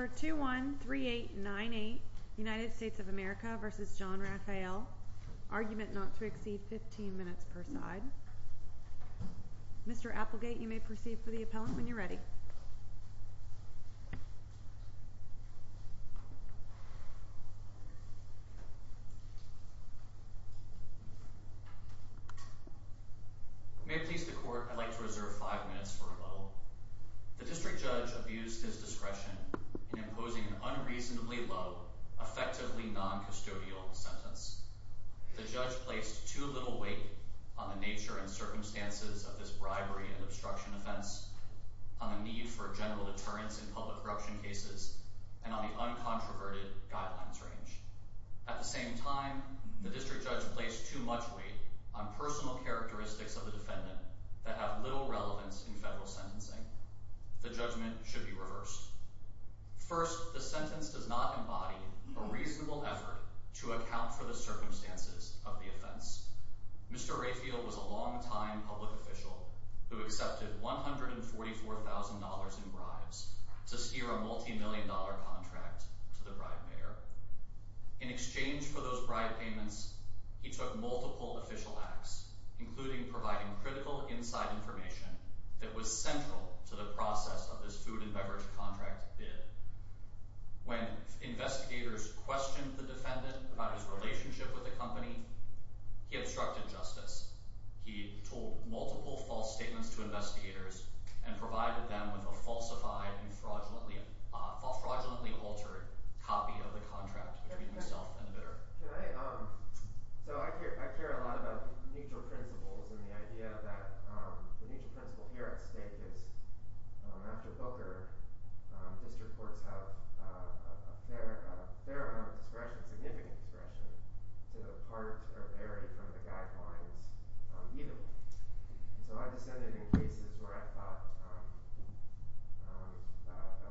Argument not to exceed 15 minutes per side Mr. Applegate you may proceed for the appellant when you're ready May it please the court, I'd like to reserve 5 minutes for rebuttal. The district judge abused his discretion in imposing an unreasonably low, effectively non-custodial sentence. The judge placed too little weight on the nature and circumstances of this bribery and obstruction offense, on the need for general deterrence in public corruption cases, and on the uncontroverted guidelines range. At the same time, the district judge placed too much weight on personal characteristics of the defendant that have little relevance in federal sentencing. The judgment should be reversed. First, the sentence does not embody a reasonable effort to account for the circumstances of the offense. Mr. Raphael was a long-time public official who accepted $144,000 in bribes to steer a multimillion-dollar contract to the bribe mayor. In exchange for those bribe payments, he took multiple official acts, including providing critical inside information that was central to the process of this food and beverage contract bid. When investigators questioned the defendant about his relationship with the company, he obstructed justice. He told multiple false statements to investigators and provided them with a falsified and fraudulently altered copy of the contract between himself and the bidder. I care a lot about neutral principles and the idea that the neutral principle here at stake is, after Booker, district courts have a fair amount of discretion, significant discretion, to part or vary from the guidelines, even. So I just ended in cases where I thought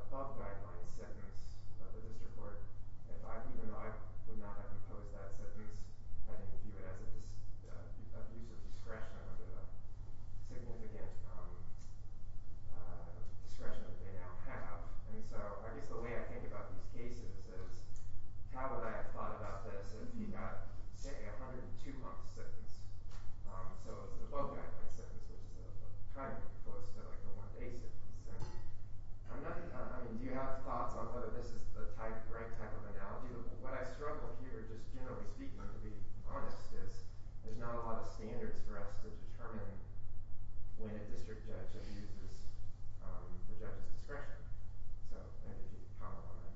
above-guidelines sentence of the district court, even though I would not have opposed that sentence, I didn't view it as an abuse of discretion under the significant discretion that they now have. And so I guess the way I think about these cases is, how would I have thought about this if you got, say, a 102-month sentence? So it's above-guideline sentence, which is kind of close to a one-day sentence. I mean, do you have thoughts on whether this is the right type of analogy? What I struggle here, just generally speaking, to be honest, is there's not a lot of standards for us to determine when a district judge abuses the judge's discretion. So I think you can comment on that.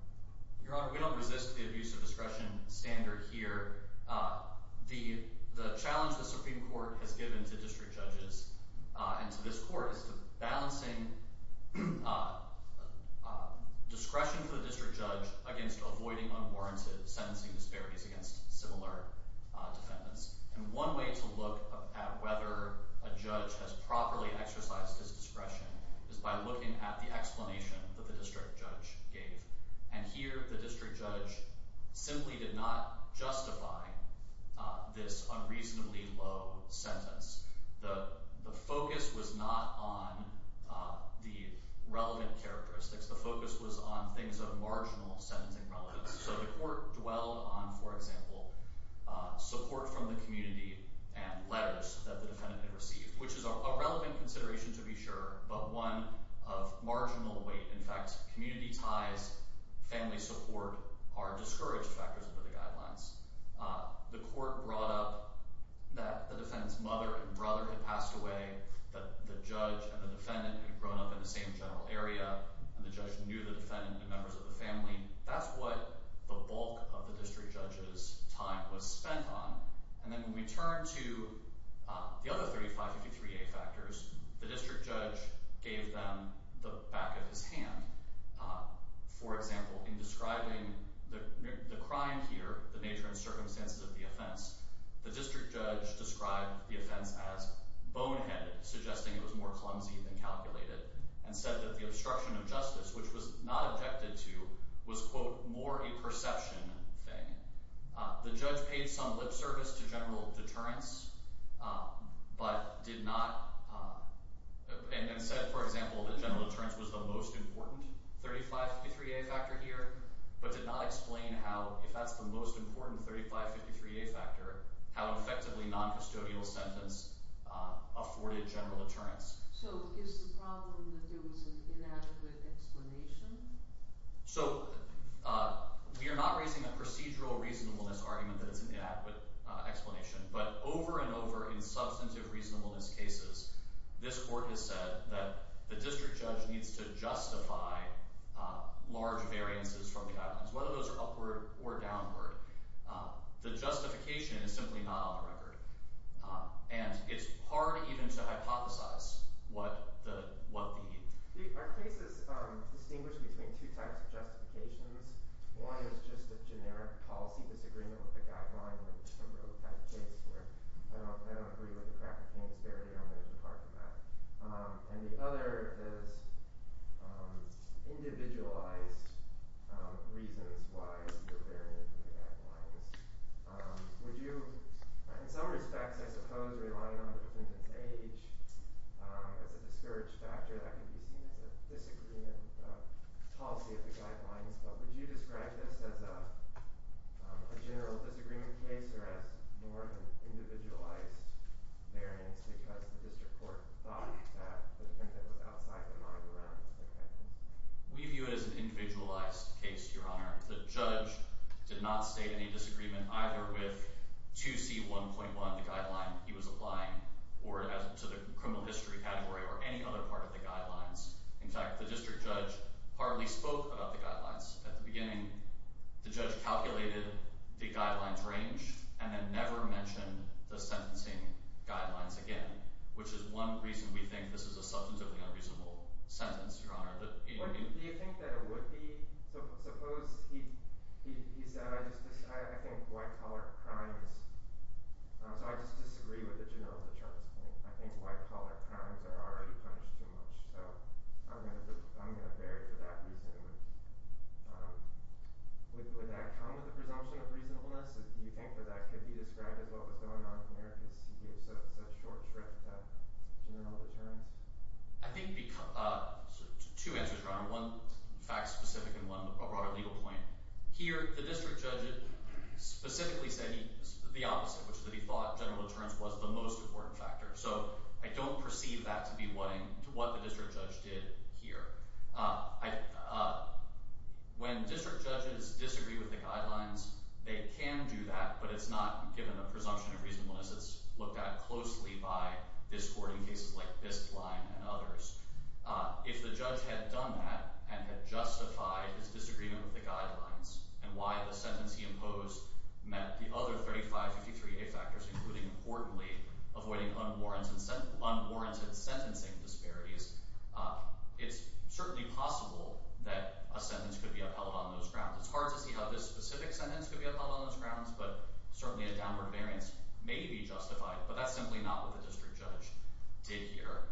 Your Honor, we don't resist the abuse of discretion standard here. The challenge the Supreme Court has given to district judges and to this court is balancing discretion for the district judge against avoiding unwarranted sentencing disparities against similar defendants. And one way to look at whether a judge has properly exercised his discretion is by looking at the explanation that the district judge gave. And here, the district judge simply did not justify this unreasonably low sentence. The focus was not on the relevant characteristics. The focus was on things of marginal sentencing relevance. So the court dwelled on, for example, support from the community and letters that the defendant had received, which is a relevant consideration to be sure, but one of marginal weight. In fact, community ties, family support are discouraged factors under the guidelines. The court brought up that the defendant's mother and brother had passed away, that the judge and the defendant had grown up in the same general area, and the judge knew the defendant and members of the family. That's what the bulk of the district judge's time was spent on. And then when we turn to the other 3553A factors, the district judge gave them the back of his hand. For example, in describing the crime here, the nature and circumstances of the offense, the district judge described the offense as boneheaded, suggesting it was more clumsy than calculated, and said that the obstruction of justice, which was not objected to, was, quote, more a perception thing. The judge paid some lip service to general deterrence, but did not—and said, for example, that general deterrence was the most important 3553A factor here, but did not explain how, if that's the most important 3553A factor, how effectively noncustodial sentence afforded general deterrence. So is the problem that there was an inadequate explanation? So we are not raising a procedural reasonableness argument that it's an inadequate explanation, but over and over in substantive reasonableness cases, this court has said that the district judge needs to justify large variances from the islands, whether those are upward or downward. The justification is simply not on the record. And it's hard even to hypothesize what the— Our case is distinguished between two types of justifications. One is just a generic policy disagreement with the guidelines, which I wrote a case for. I don't agree with the crack cocaine disparity. I'm going to depart from that. And the other is individualized reasons why you're varying from the guidelines. Would you—in some respects, I suppose, relying on the defendant's age as a discouraged factor, that could be seen as a disagreement policy of the guidelines. But would you describe this as a general disagreement case or as more of an individualized variance because the district court thought that the defendant was outside the mind around the defendant? We view it as an individualized case, Your Honor. The judge did not state any disagreement either with 2C1.1, the guideline he was applying, or to the criminal history category, or any other part of the guidelines. In fact, the district judge partly spoke about the guidelines at the beginning. The judge calculated the guidelines' range and then never mentioned the sentencing guidelines again, which is one reason we think this is a substantively unreasonable sentence, Your Honor. Do you think that it would be—suppose he said, I think white-collar crimes—so I just disagree with the general deterrence claim. I think white-collar crimes are already punished too much, so I'm going to vary for that reason. Would that come with a presumption of reasonableness? Do you think that that could be described as what was going on here because he gave such short shrift general deterrence? I think—two answers, Your Honor. One fact-specific and one broader legal point. Here, the district judge specifically said the opposite, which is that he thought general deterrence was the most important factor. So I don't perceive that to be what the district judge did here. When district judges disagree with the guidelines, they can do that, but it's not given a presumption of reasonableness. It's looked at closely by this court in cases like Bispline and others. If the judge had done that and had justified his disagreement with the guidelines, and why the sentence he imposed met the other 3553A factors, including, importantly, avoiding unwarranted sentencing disparities, it's certainly possible that a sentence could be upheld on those grounds. It's hard to see how this specific sentence could be upheld on those grounds, but certainly a downward variance may be justified, but that's simply not what the district judge did here.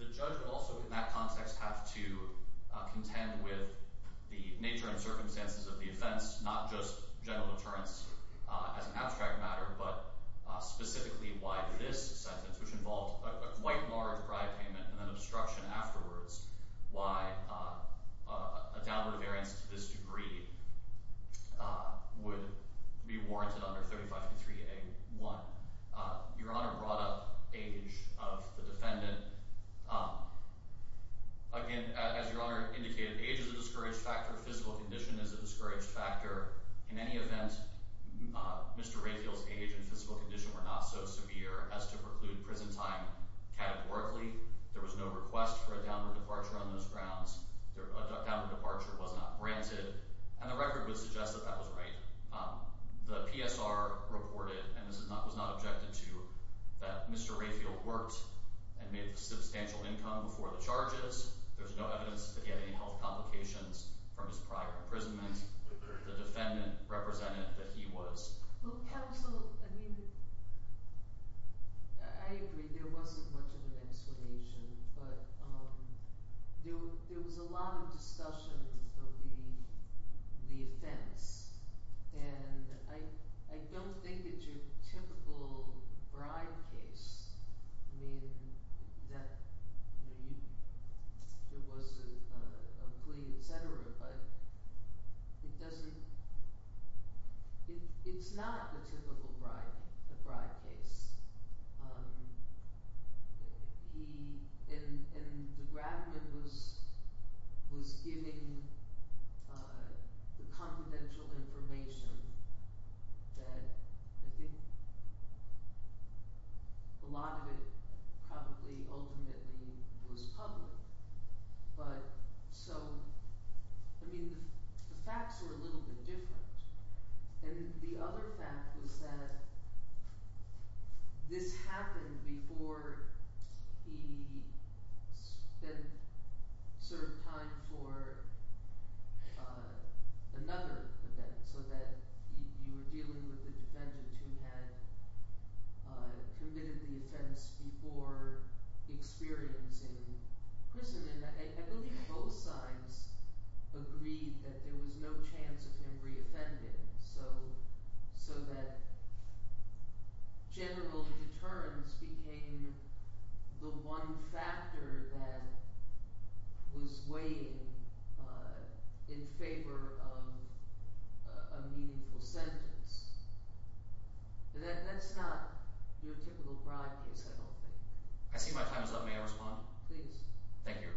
The judge would also, in that context, have to contend with the nature and circumstances of the offense, not just general deterrence as an abstract matter, but specifically why this sentence, which involved a quite large bribe payment and then obstruction afterwards, why a downward variance to this degree would be warranted under 3553A1. Your Honor brought up age of the defendant. Again, as Your Honor indicated, age is a discouraged factor. Physical condition is a discouraged factor. In any event, Mr. Rayfield's age and physical condition were not so severe as to preclude prison time categorically. There was no request for a downward departure on those grounds. A downward departure was not granted, and the record would suggest that that was right. The PSR reported, and this was not objected to, that Mr. Rayfield worked and made a substantial income before the charges. There's no evidence that he had any health complications from his prior imprisonment. The defendant represented that he was... Counsel, I mean, I agree there wasn't much of an explanation, but there was a lot of discussion of the offense. And I don't think it's your typical bribe case. I mean, there was a plea, etc., but it doesn't... It's not a typical bribe case. He... And the grabber was giving the confidential information that, I think, a lot of it probably ultimately was public. But, so... I mean, the facts were a little bit different. And the other fact was that this happened before he had served time for another event, so that you were dealing with a defendant who had committed the offense before experiencing prison. I believe both sides agreed that there was no chance of him reoffending, so that general deterrence became the one factor that was weighing in favor of a meaningful sentence. That's not your typical bribe case, I don't think. I see my time is up. May I respond? Please. Thank you.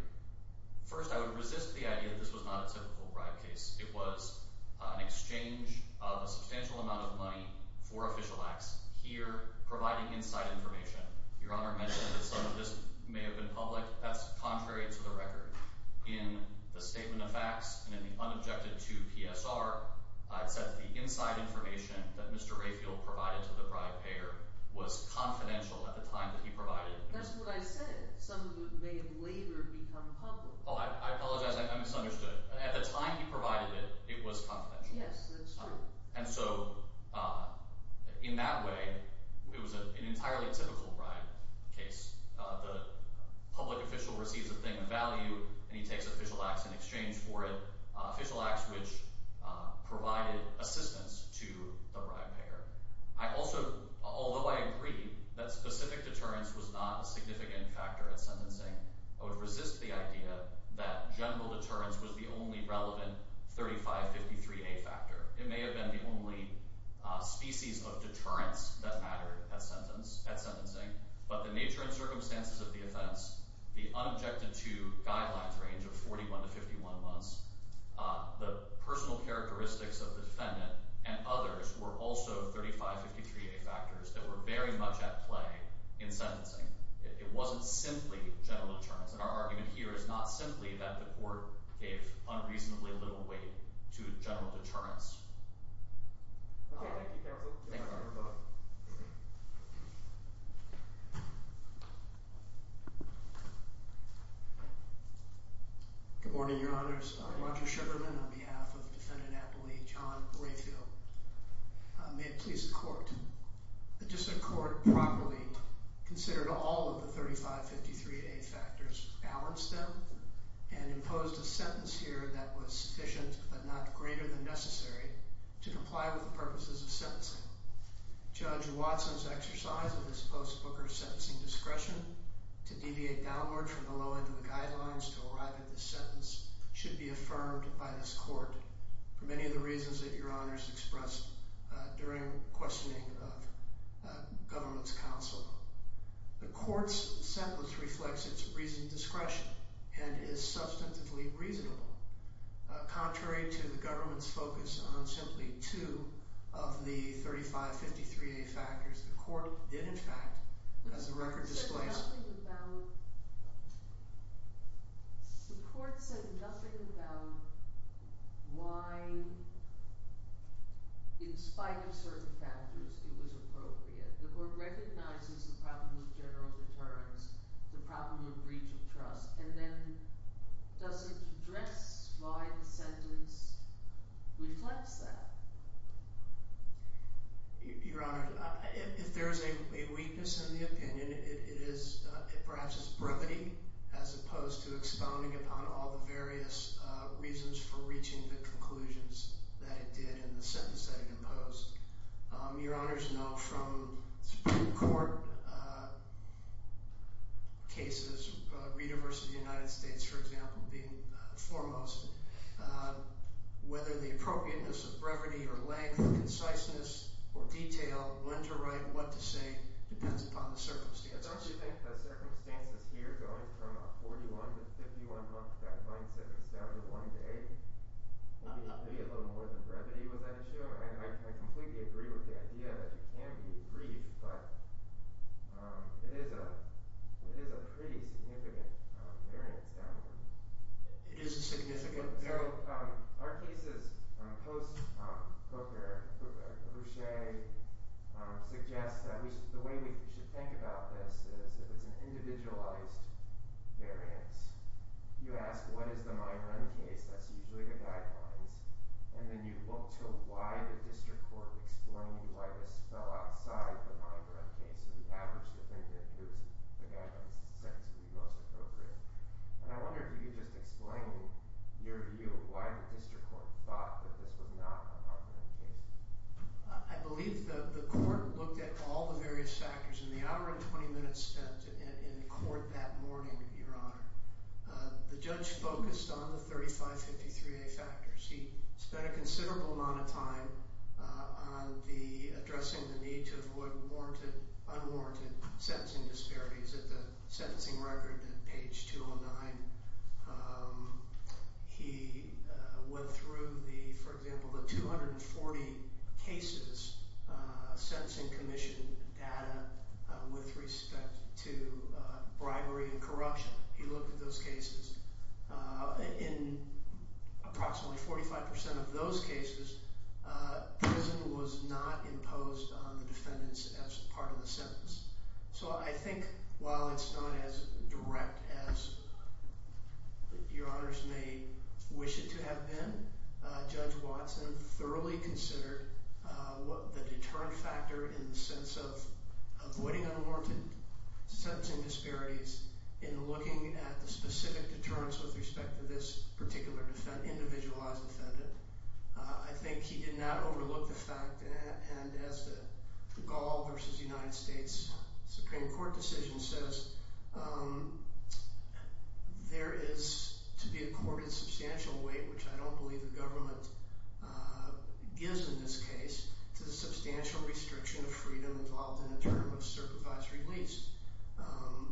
First, I would resist the idea that this was not a typical bribe case. It was an exchange of a substantial amount of money for official acts, here providing inside information. Your Honor mentioned that some of this may have been public. That's contrary to the record. In the statement of facts, and in the unobjected to PSR, I've said that the inside information that Mr. Rayfield provided to the bribe payer was confidential at the time that he provided it. That's what I said. Some of it may have later become public. Oh, I apologize. I misunderstood. At the time he provided it, it was confidential. Yes, that's true. And so, in that way, it was an entirely typical bribe case. The public official receives a thing of value, and he takes official acts in exchange for it, official acts which provided assistance to the bribe payer. Although I agree that specific deterrence was not a significant factor in sentencing, I would resist the idea that general deterrence was the only relevant 3553A factor. It may have been the only species of deterrence that mattered at sentencing, but the nature and circumstances of the offense, the unobjected to guidelines range of 41 to 51 months, the personal characteristics of the defendant, and others were also 3553A factors that were very much at play in sentencing. It wasn't simply general deterrence, and our argument here is not simply that the court gave unreasonably little weight to general deterrence. Okay. Thank you, counsel. Thank you. Thank you for your vote. Good morning, Your Honors. I'm Roger Sugarman on behalf of defendant-appellee John Grayfield. May it please the court, that just the court properly considered all of the 3553A factors, balanced them, and imposed a sentence here that was sufficient but not greater than necessary to comply with the purposes of sentencing. Judge Watson's exercise of this post-Booker sentencing discretion to deviate downward from the low end of the guidelines to arrive at this sentence should be affirmed by this court for many of the reasons that Your Honors expressed during questioning of government's counsel. The court's sentence reflects its reasoned discretion and is substantively reasonable. Contrary to the government's focus on simply two of the 3553A factors, the court did, in fact, as the record displays... The court said nothing about... The court said nothing about why, in spite of certain factors, it was appropriate. The court recognizes the problem of general deterrence, the problem of breach of trust, and then does it address why the sentence reflects that? Your Honors, if there is a weakness in the opinion, it is perhaps its brevity, as opposed to expounding upon all the various reasons for reaching the conclusions that it did in the sentence that it imposed. Your Honors know from Supreme Court cases, the University of the United States, for example, being foremost, whether the appropriateness of brevity or length, conciseness, or detail, when to write, what to say, depends upon the circumstances. I don't think the circumstances here, going from a 41-to-51-month guideline sentence down to one day, would be a little more than brevity with that issue. I completely agree with the idea that it can be brief, but it is a pretty significant variance down here. It is a significant variance. So, our cases post-Cook or Boucher suggest that the way we should think about this is if it's an individualized variance, you ask what is the mine run case, that's usually the guidelines, and then you look to why the district court would explain to you why this fell outside the mine run case. So, the average defendant is, again, the sentence would be most appropriate. And I wonder if you could just explain your view of why the district court thought that this was not a mine run case. I believe the court looked at all the various factors in the hour and 20 minutes spent in court that morning, Your Honor. The judge focused on the 3553A factors. He spent a considerable amount of time addressing the need to avoid unwarranted sentencing disparities at the sentencing record at page 209. He went through, for example, the 240 cases sentencing commission data with respect to bribery and corruption. He looked at those cases. In approximately 45% of those cases, prison was not imposed on the defendants as part of the sentence. So I think while it's not as direct as Your Honors may wish it to have been, Judge Watson thoroughly considered the deterrent factor in the sense of avoiding unwarranted sentencing disparities in looking at the specific deterrence with respect to this particular individualized defendant. I think he did not overlook the fact that as the Gall v. United States Supreme Court decision says, there is to be accorded substantial weight, which I don't believe the government gives in this case, to the substantial restriction of freedom involved in a term of supervised release,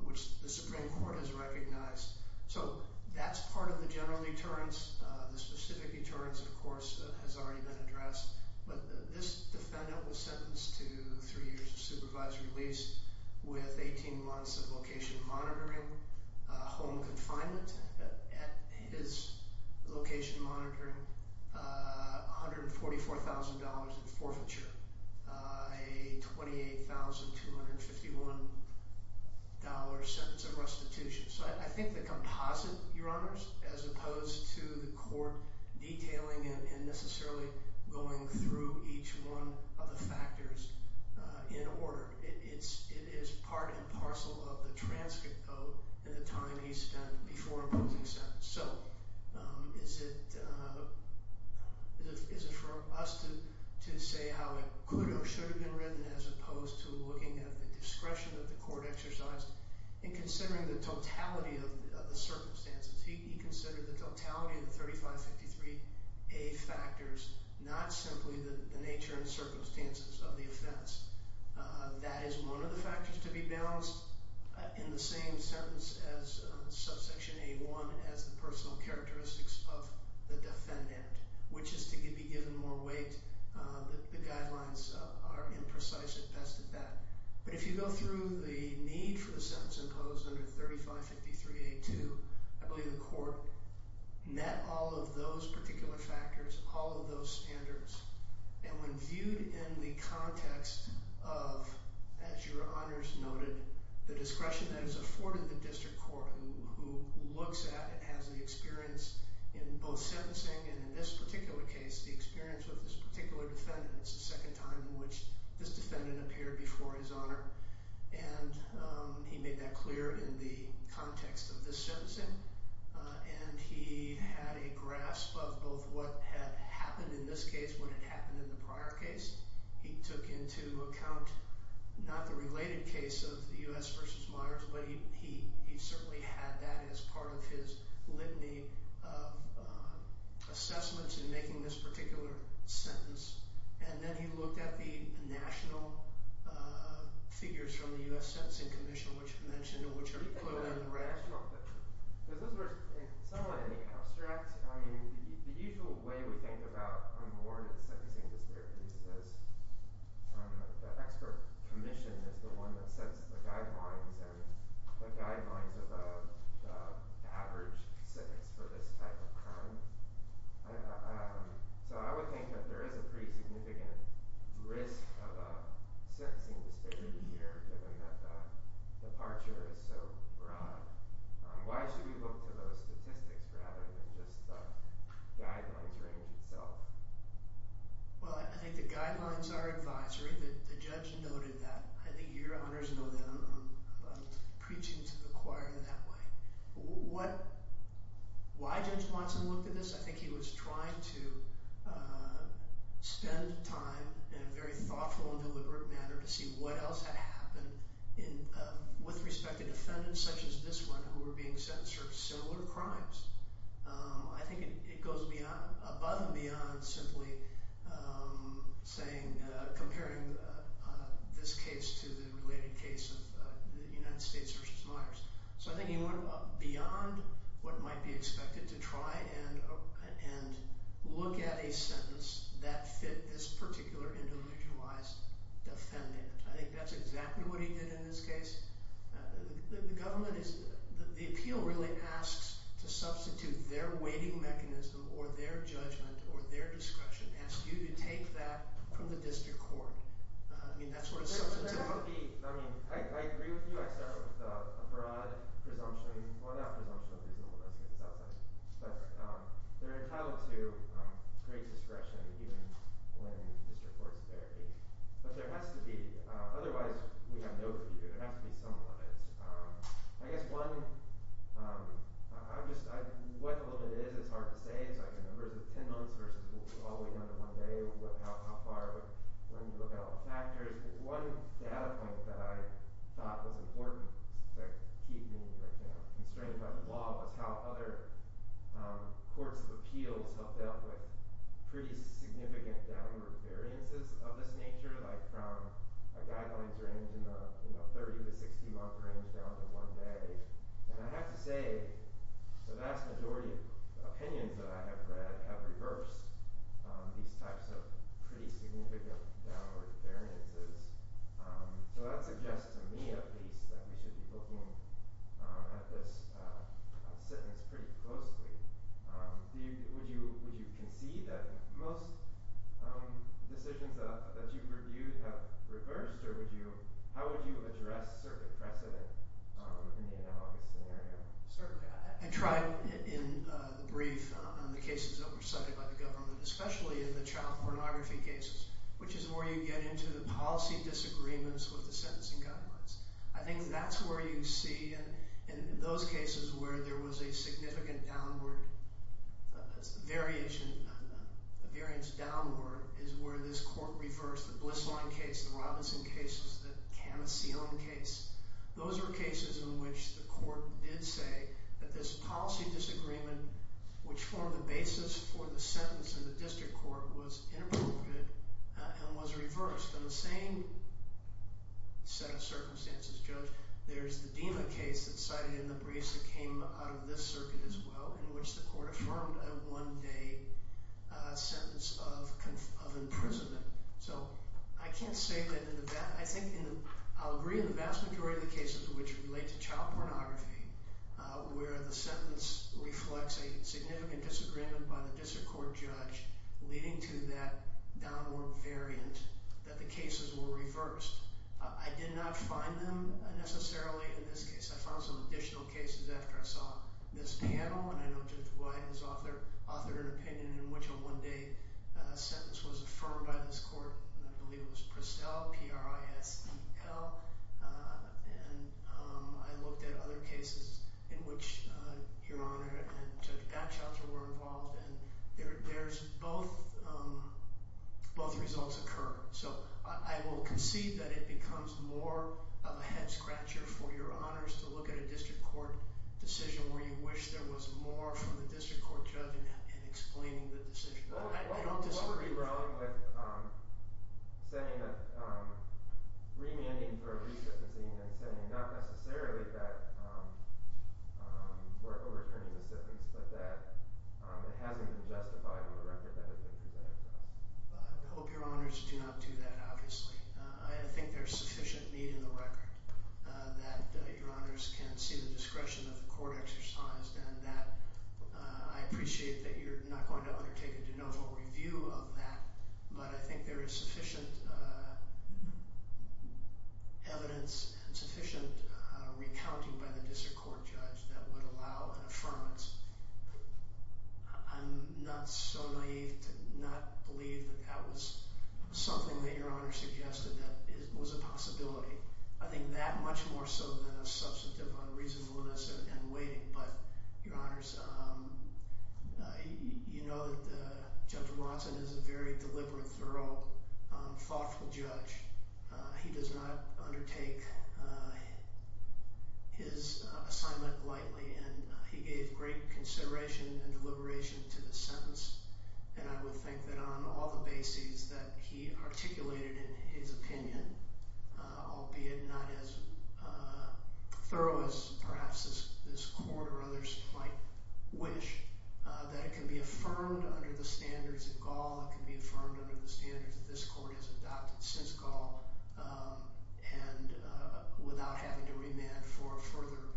which the Supreme Court has recognized. So that's part of the general deterrence. The specific deterrence, of course, has already been addressed. But this defendant was sentenced to three years of supervised release with 18 months of location monitoring, home confinement at his location monitoring, $144,000 in forfeiture, a $28,251 sentence of restitution. So I think the composite, Your Honors, as opposed to the court detailing and necessarily going through each one of the factors in order, it is part and parcel of the transcript, though, and the time he spent before imposing sentence. So is it for us to say how it could or should have been written as opposed to looking at the discretion that the court exercised and considering the totality of the circumstances? He considered the totality of the 3553A factors, not simply the nature and circumstances of the offense. That is one of the factors to be balanced in the same sentence as subsection A1 as the personal characteristics of the defendant, which is to be given more weight. The guidelines are imprecise at best at that. But if you go through the need for the sentence imposed under 3553A2, I believe the court met all of those particular factors, all of those standards, and when viewed in the context of, as Your Honors noted, the discretion that is afforded the district court who looks at and has the experience in both sentencing and in this particular case, the experience of this particular defendant. It's the second time in which this defendant appeared before His Honor, and he made that clear in the context of this sentencing, and he had a grasp of both what had happened in this case and what had happened in the prior case. He took into account not the related case of the U.S. v. Myers, but he certainly had that as part of his litany of assessments in making this particular sentence. And then he looked at the national figures from the U.S. Sentencing Commission, which are quoted in the red. Is this somewhat any abstract? I mean, the usual way we think about unwarranted sentencing disparities is the expert commission is the one that sets the guidelines and the guidelines of the average sentence for this type of crime. So I would think that there is a pretty significant risk of a sentencing disparity here, given that the departure is so broad. Why should we look to those statistics rather than just the guidelines range itself? Well, I think the guidelines are advisory. The judge noted that. I think your honors know that. I'm preaching to the choir in that way. Why Judge Watson looked at this, I think he was trying to spend time in a very thoughtful and deliberate manner to see what else had happened with respect to defendants such as this one who were being sentenced for similar crimes. I think it goes above and beyond simply comparing this case to the related case of the United States v. Myers. So I think he went beyond what might be expected to try and look at a sentence that fit this particular individualized defendant. I think that's exactly what he did in this case. The appeal really asks to substitute their weighting mechanism or their judgment or their discretion. It asks you to take that from the district court. I agree with you. I start with a broad presumption. Well, not presumption. There's no presumption. It's outside. But they're entitled to great discretion even when district courts vary. But there has to be. Otherwise, we have no view. There has to be some limits. I guess one, what the limit is, it's hard to say. It's like the numbers of 10 months versus all the way down to one day or how far, when you look at all the factors. One data point that I thought was important to keep me constrained by the law was how other courts of appeals helped out with pretty significant downward variances of this nature, like from a guidelines range in the 30 to 60-month range down to one day. And I have to say, the vast majority of opinions that I have read have reversed these types of pretty significant downward variances. So that suggests to me, at least, that we should be looking at this sentence pretty closely. Would you concede that most decisions that you've reviewed have reversed? Or how would you address certain precedent in the analogous scenario? Certainly. I tried in the brief on the cases that were cited by the government, especially in the child pornography cases, which is where you get into the policy disagreements with the sentencing guidelines. I think that's where you see, in those cases where there was a significant downward variation, a variance downward, is where this court reversed the Blisseline case, the Robinson case, the Cana ceiling case. Those are cases in which the court did say that this policy disagreement, which formed the basis for the sentence in the district court, was inappropriate and was reversed. In the same set of circumstances, Judge, there's the DEMA case that's cited in the briefs that came out of this circuit as well, in which the court affirmed a one-day sentence of imprisonment. So I can't say that in the vast... I'll agree in the vast majority of the cases which relate to child pornography where the sentence reflects a significant disagreement by the district court judge leading to that downward variant, that the cases were reversed. I did not find them necessarily in this case. I found some additional cases after I saw this panel, and I know Judge Wyden has authored an opinion in which a one-day sentence was affirmed by this court. I believe it was PRISEL, P-R-I-S-E-L. And I looked at other cases in which Your Honor and Judge Batchelter were involved, and both results occur. So I will concede that it becomes more of a head-scratcher for Your Honors to look at a district court decision where you wish there was more from the district court judge in explaining the decision. I don't disagree with... What would be wrong with remanding for a resubstantiation and saying not necessarily that we're overturning the sentence but that it hasn't been justified with a record that has been presented to us? I hope Your Honors do not do that, obviously. I think there's sufficient need in the record that Your Honors can see the discretion of the court exercised and that I appreciate that you're not going to undertake a de novo review of that. But I think there is sufficient evidence and sufficient recounting by the district court judge that would allow an affirmance. I'm not so naive to not believe that that was something that Your Honor suggested that was a possibility. I think that much more so than a substantive unreasonableness and waiting. But, Your Honors, you know that Judge Watson is a very deliberate, thorough, thoughtful judge. He does not undertake his assignment lightly, and he gave great consideration and deliberation to the sentence. And I would think that on all the bases that he articulated in his opinion, albeit not as thorough as perhaps this court or others might wish, that it can be affirmed under the standards of Gaul, it can be affirmed under the standards that this court has adopted since Gaul and without having to remand for a further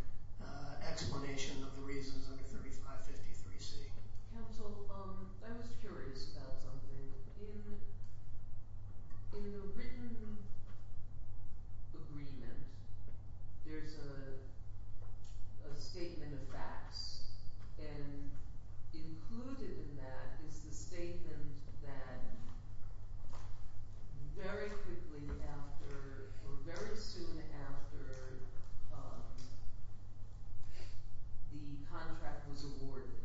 explanation of the reasons under 3553C. Counsel, I was curious about something. In the written agreement, there's a statement of facts, and included in that is the statement that very quickly after or very soon after the contract was awarded,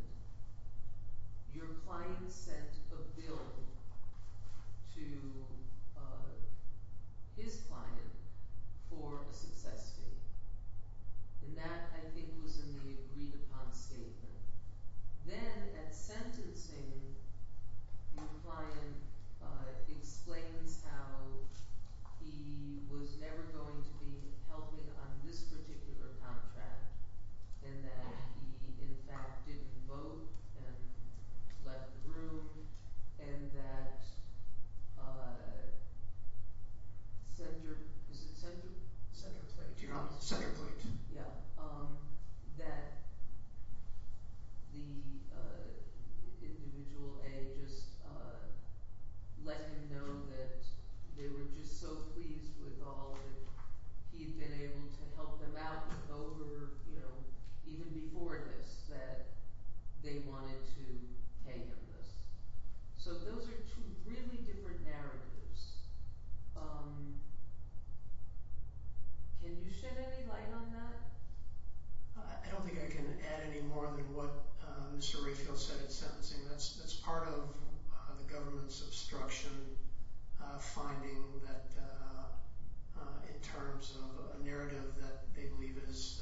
your client sent a bill to his client for a success fee. And that, I think, was in the agreed-upon statement. Then, at sentencing, your client explains how he was never going to be able to vote and left the room, and that the individual, A, just let him know that they were just so pleased with all and he'd been able to help them out even before this, that they wanted to pay him this. So those are two really different narratives. Can you shed any light on that? I don't think I can add any more than what Mr. Rayfield said at sentencing. That's part of the government's obstruction, finding that in terms of a narrative that they believe is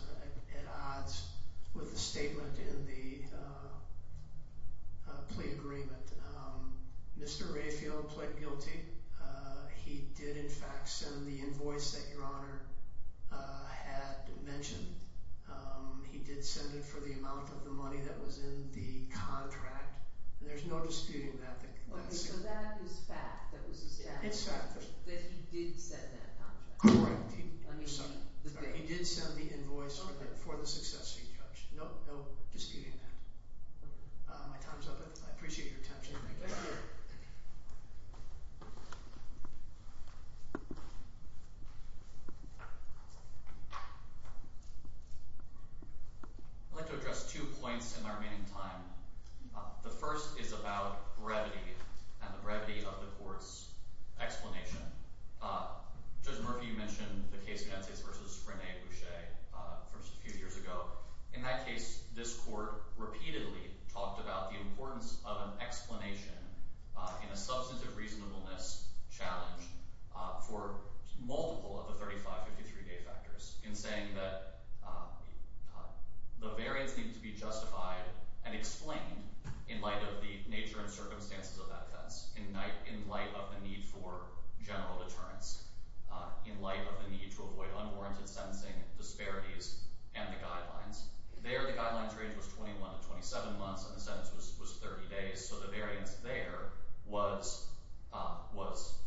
at odds with the statement in the plea agreement. Mr. Rayfield pled guilty. He did, in fact, send the invoice that Your Honor had mentioned. He did send it for the amount of the money that was in the contract, and there's no disputing that. Okay, so that is fact. That was a statement. It's fact. That he did send that contract. Correct. He did send the invoice for the successive charge. No disputing that. My time's up. I appreciate your attention. I'd like to address two points in the remaining time. The first is about brevity and the brevity of the court's explanation. Judge Murphy, you mentioned the case of Nancez v. Rene Boucher just a few years ago. In that case, this court repeatedly talked about the importance of an explanation in a substantive reasonableness challenge for multiple of the 3553 date factors in saying that the variance needs to be justified and explained in light of the nature and circumstances of that offense, in light of the need for general deterrence, in light of the need to avoid unwarranted sentencing disparities and the guidelines. There, the guidelines range was 21 to 27 months, and the sentence was 30 days, so the variance there was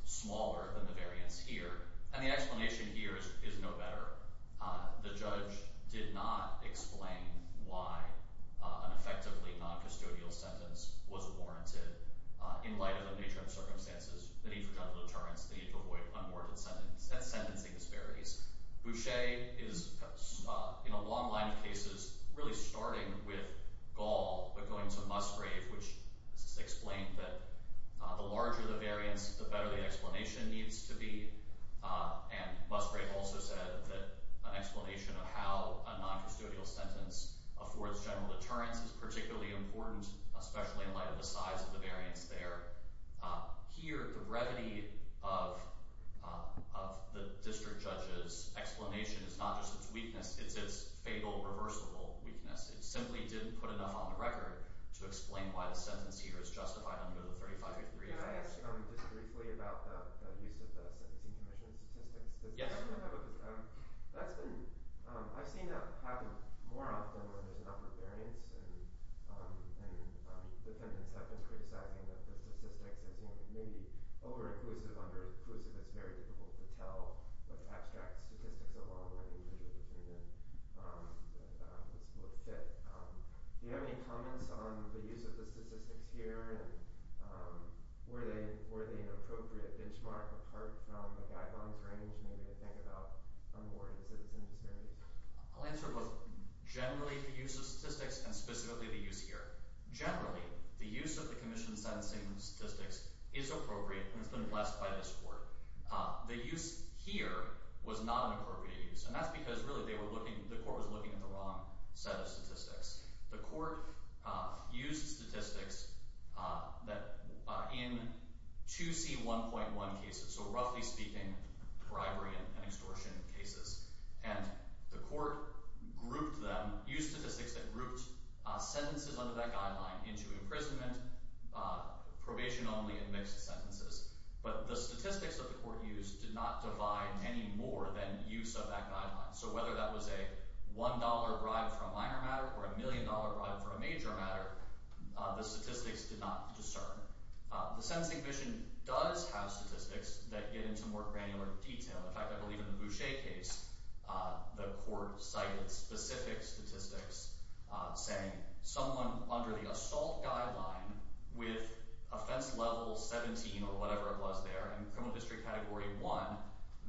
smaller than the variance here, and the explanation here is no better. The judge did not explain why an effectively noncustodial sentence was warranted in light of the nature and circumstances, the need for general deterrence, the need to avoid unwarranted sentencing disparities. Boucher is, in a long line of cases, really starting with Gall but going to Musgrave, which explained that the larger the variance, the better the explanation needs to be, and Musgrave also said that an explanation of how a noncustodial sentence affords general deterrence is particularly important, especially in light of the size of the variance there. Here, the brevity of the district judge's explanation is not just its weakness, it's its fatal, reversible weakness. It simply didn't put enough on the record to explain why the sentence here is justified under the 35-day period. Can I ask just briefly about the use of the Sentencing Commission statistics? Yes. I've seen that happen more often when there's an upper variance and defendants have been criticizing that the statistics is maybe over-inclusive, under-inclusive, it's very difficult to tell with abstract statistics along with individual opinion that this will fit. Do you have any comments on the use of the statistics here? Were they an appropriate benchmark apart from the guidelines range made, I think, about onboarding citizens? I'll answer both generally the use of statistics and specifically the use here. Generally, the use of the commission's sentencing statistics is appropriate and has been blessed by this court. The use here was not an appropriate use, and that's because really the court was looking at the wrong set of statistics. The court used statistics in 2C1.1 cases, so roughly speaking, bribery and extortion cases, and the court used statistics that grouped sentences under that guideline into imprisonment, probation only, and mixed sentences. But the statistics that the court used did not divide any more than use of that guideline. So whether that was a $1 bribe for a minor matter or a $1,000,000 bribe for a major matter, the statistics did not discern. The Sentencing Commission does have statistics that get into more granular detail. In fact, I believe in the Boucher case, the court cited specific statistics saying someone under the assault guideline with offense level 17 or whatever it was there, and criminal district category 1,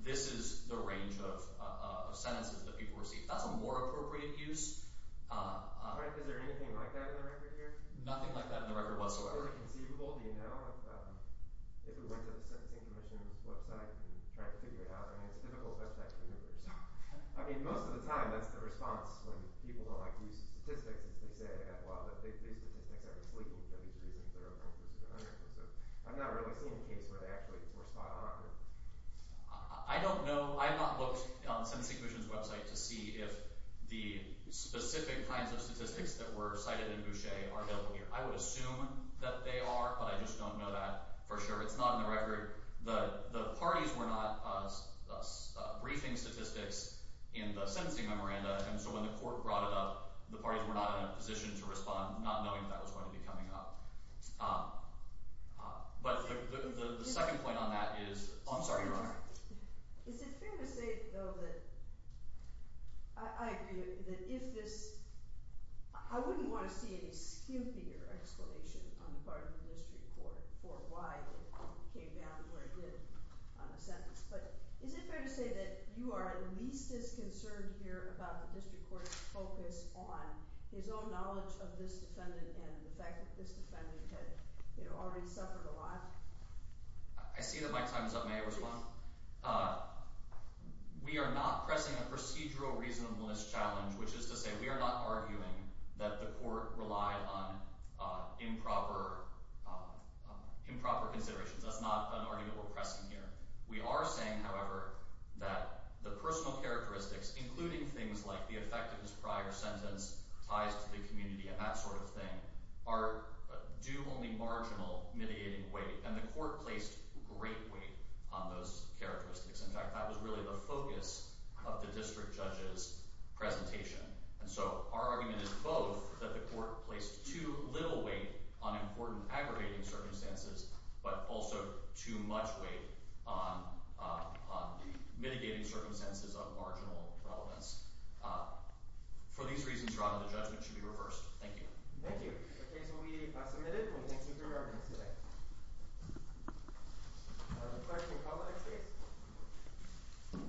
this is the range of sentences that people received. That's a more appropriate use. Is there anything like that in the record here? Nothing like that in the record whatsoever. Is it conceivable, do you know, if we went to the Sentencing Commission's website and tried to figure it out? I mean, it's a difficult question to answer. I mean, most of the time that's the response when people don't like to use statistics is they say, well, these statistics are misleading for these reasons they're over-inclusive and under-inclusive. I've not really seen a case where they actually respond in the record. I don't know. I have not looked on the Sentencing Commission's website to see if the specific kinds of statistics that were cited in Boucher are available here. I would assume that they are, but I just don't know that for sure. It's not in the record. The parties were not briefing statistics in the sentencing memoranda, and so when the court brought it up, the parties were not in a position to respond, not knowing that that was going to be coming up. But the second point on that is—oh, I'm sorry, Your Honor. Is it fair to say, though, that I agree that if this— I wouldn't want to see any skimpier explanation on the part of the district court for why it came down to where it did on the sentence, but is it fair to say that you are at least as concerned here about the district court's focus on his own knowledge of this defendant and the fact that this defendant had already suffered a lot? I see that my time is up. May I respond? We are not pressing a procedural reasonableness challenge, which is to say we are not arguing that the court relied on improper considerations. That's not an argument we're pressing here. We are saying, however, that the personal characteristics, including things like the effectiveness prior sentence, ties to the community, and that sort of thing, are due only marginal mediating weight, and the court placed great weight on those characteristics. In fact, that was really the focus of the district judge's presentation. And so our argument is both that the court placed too little weight on important aggravating circumstances, but also too much weight on mitigating circumstances of marginal relevance. For these reasons, Your Honor, the judgment should be reversed. Thank you. Thank you. The case will be submitted. We thank you for your evidence today. Question and comment, please.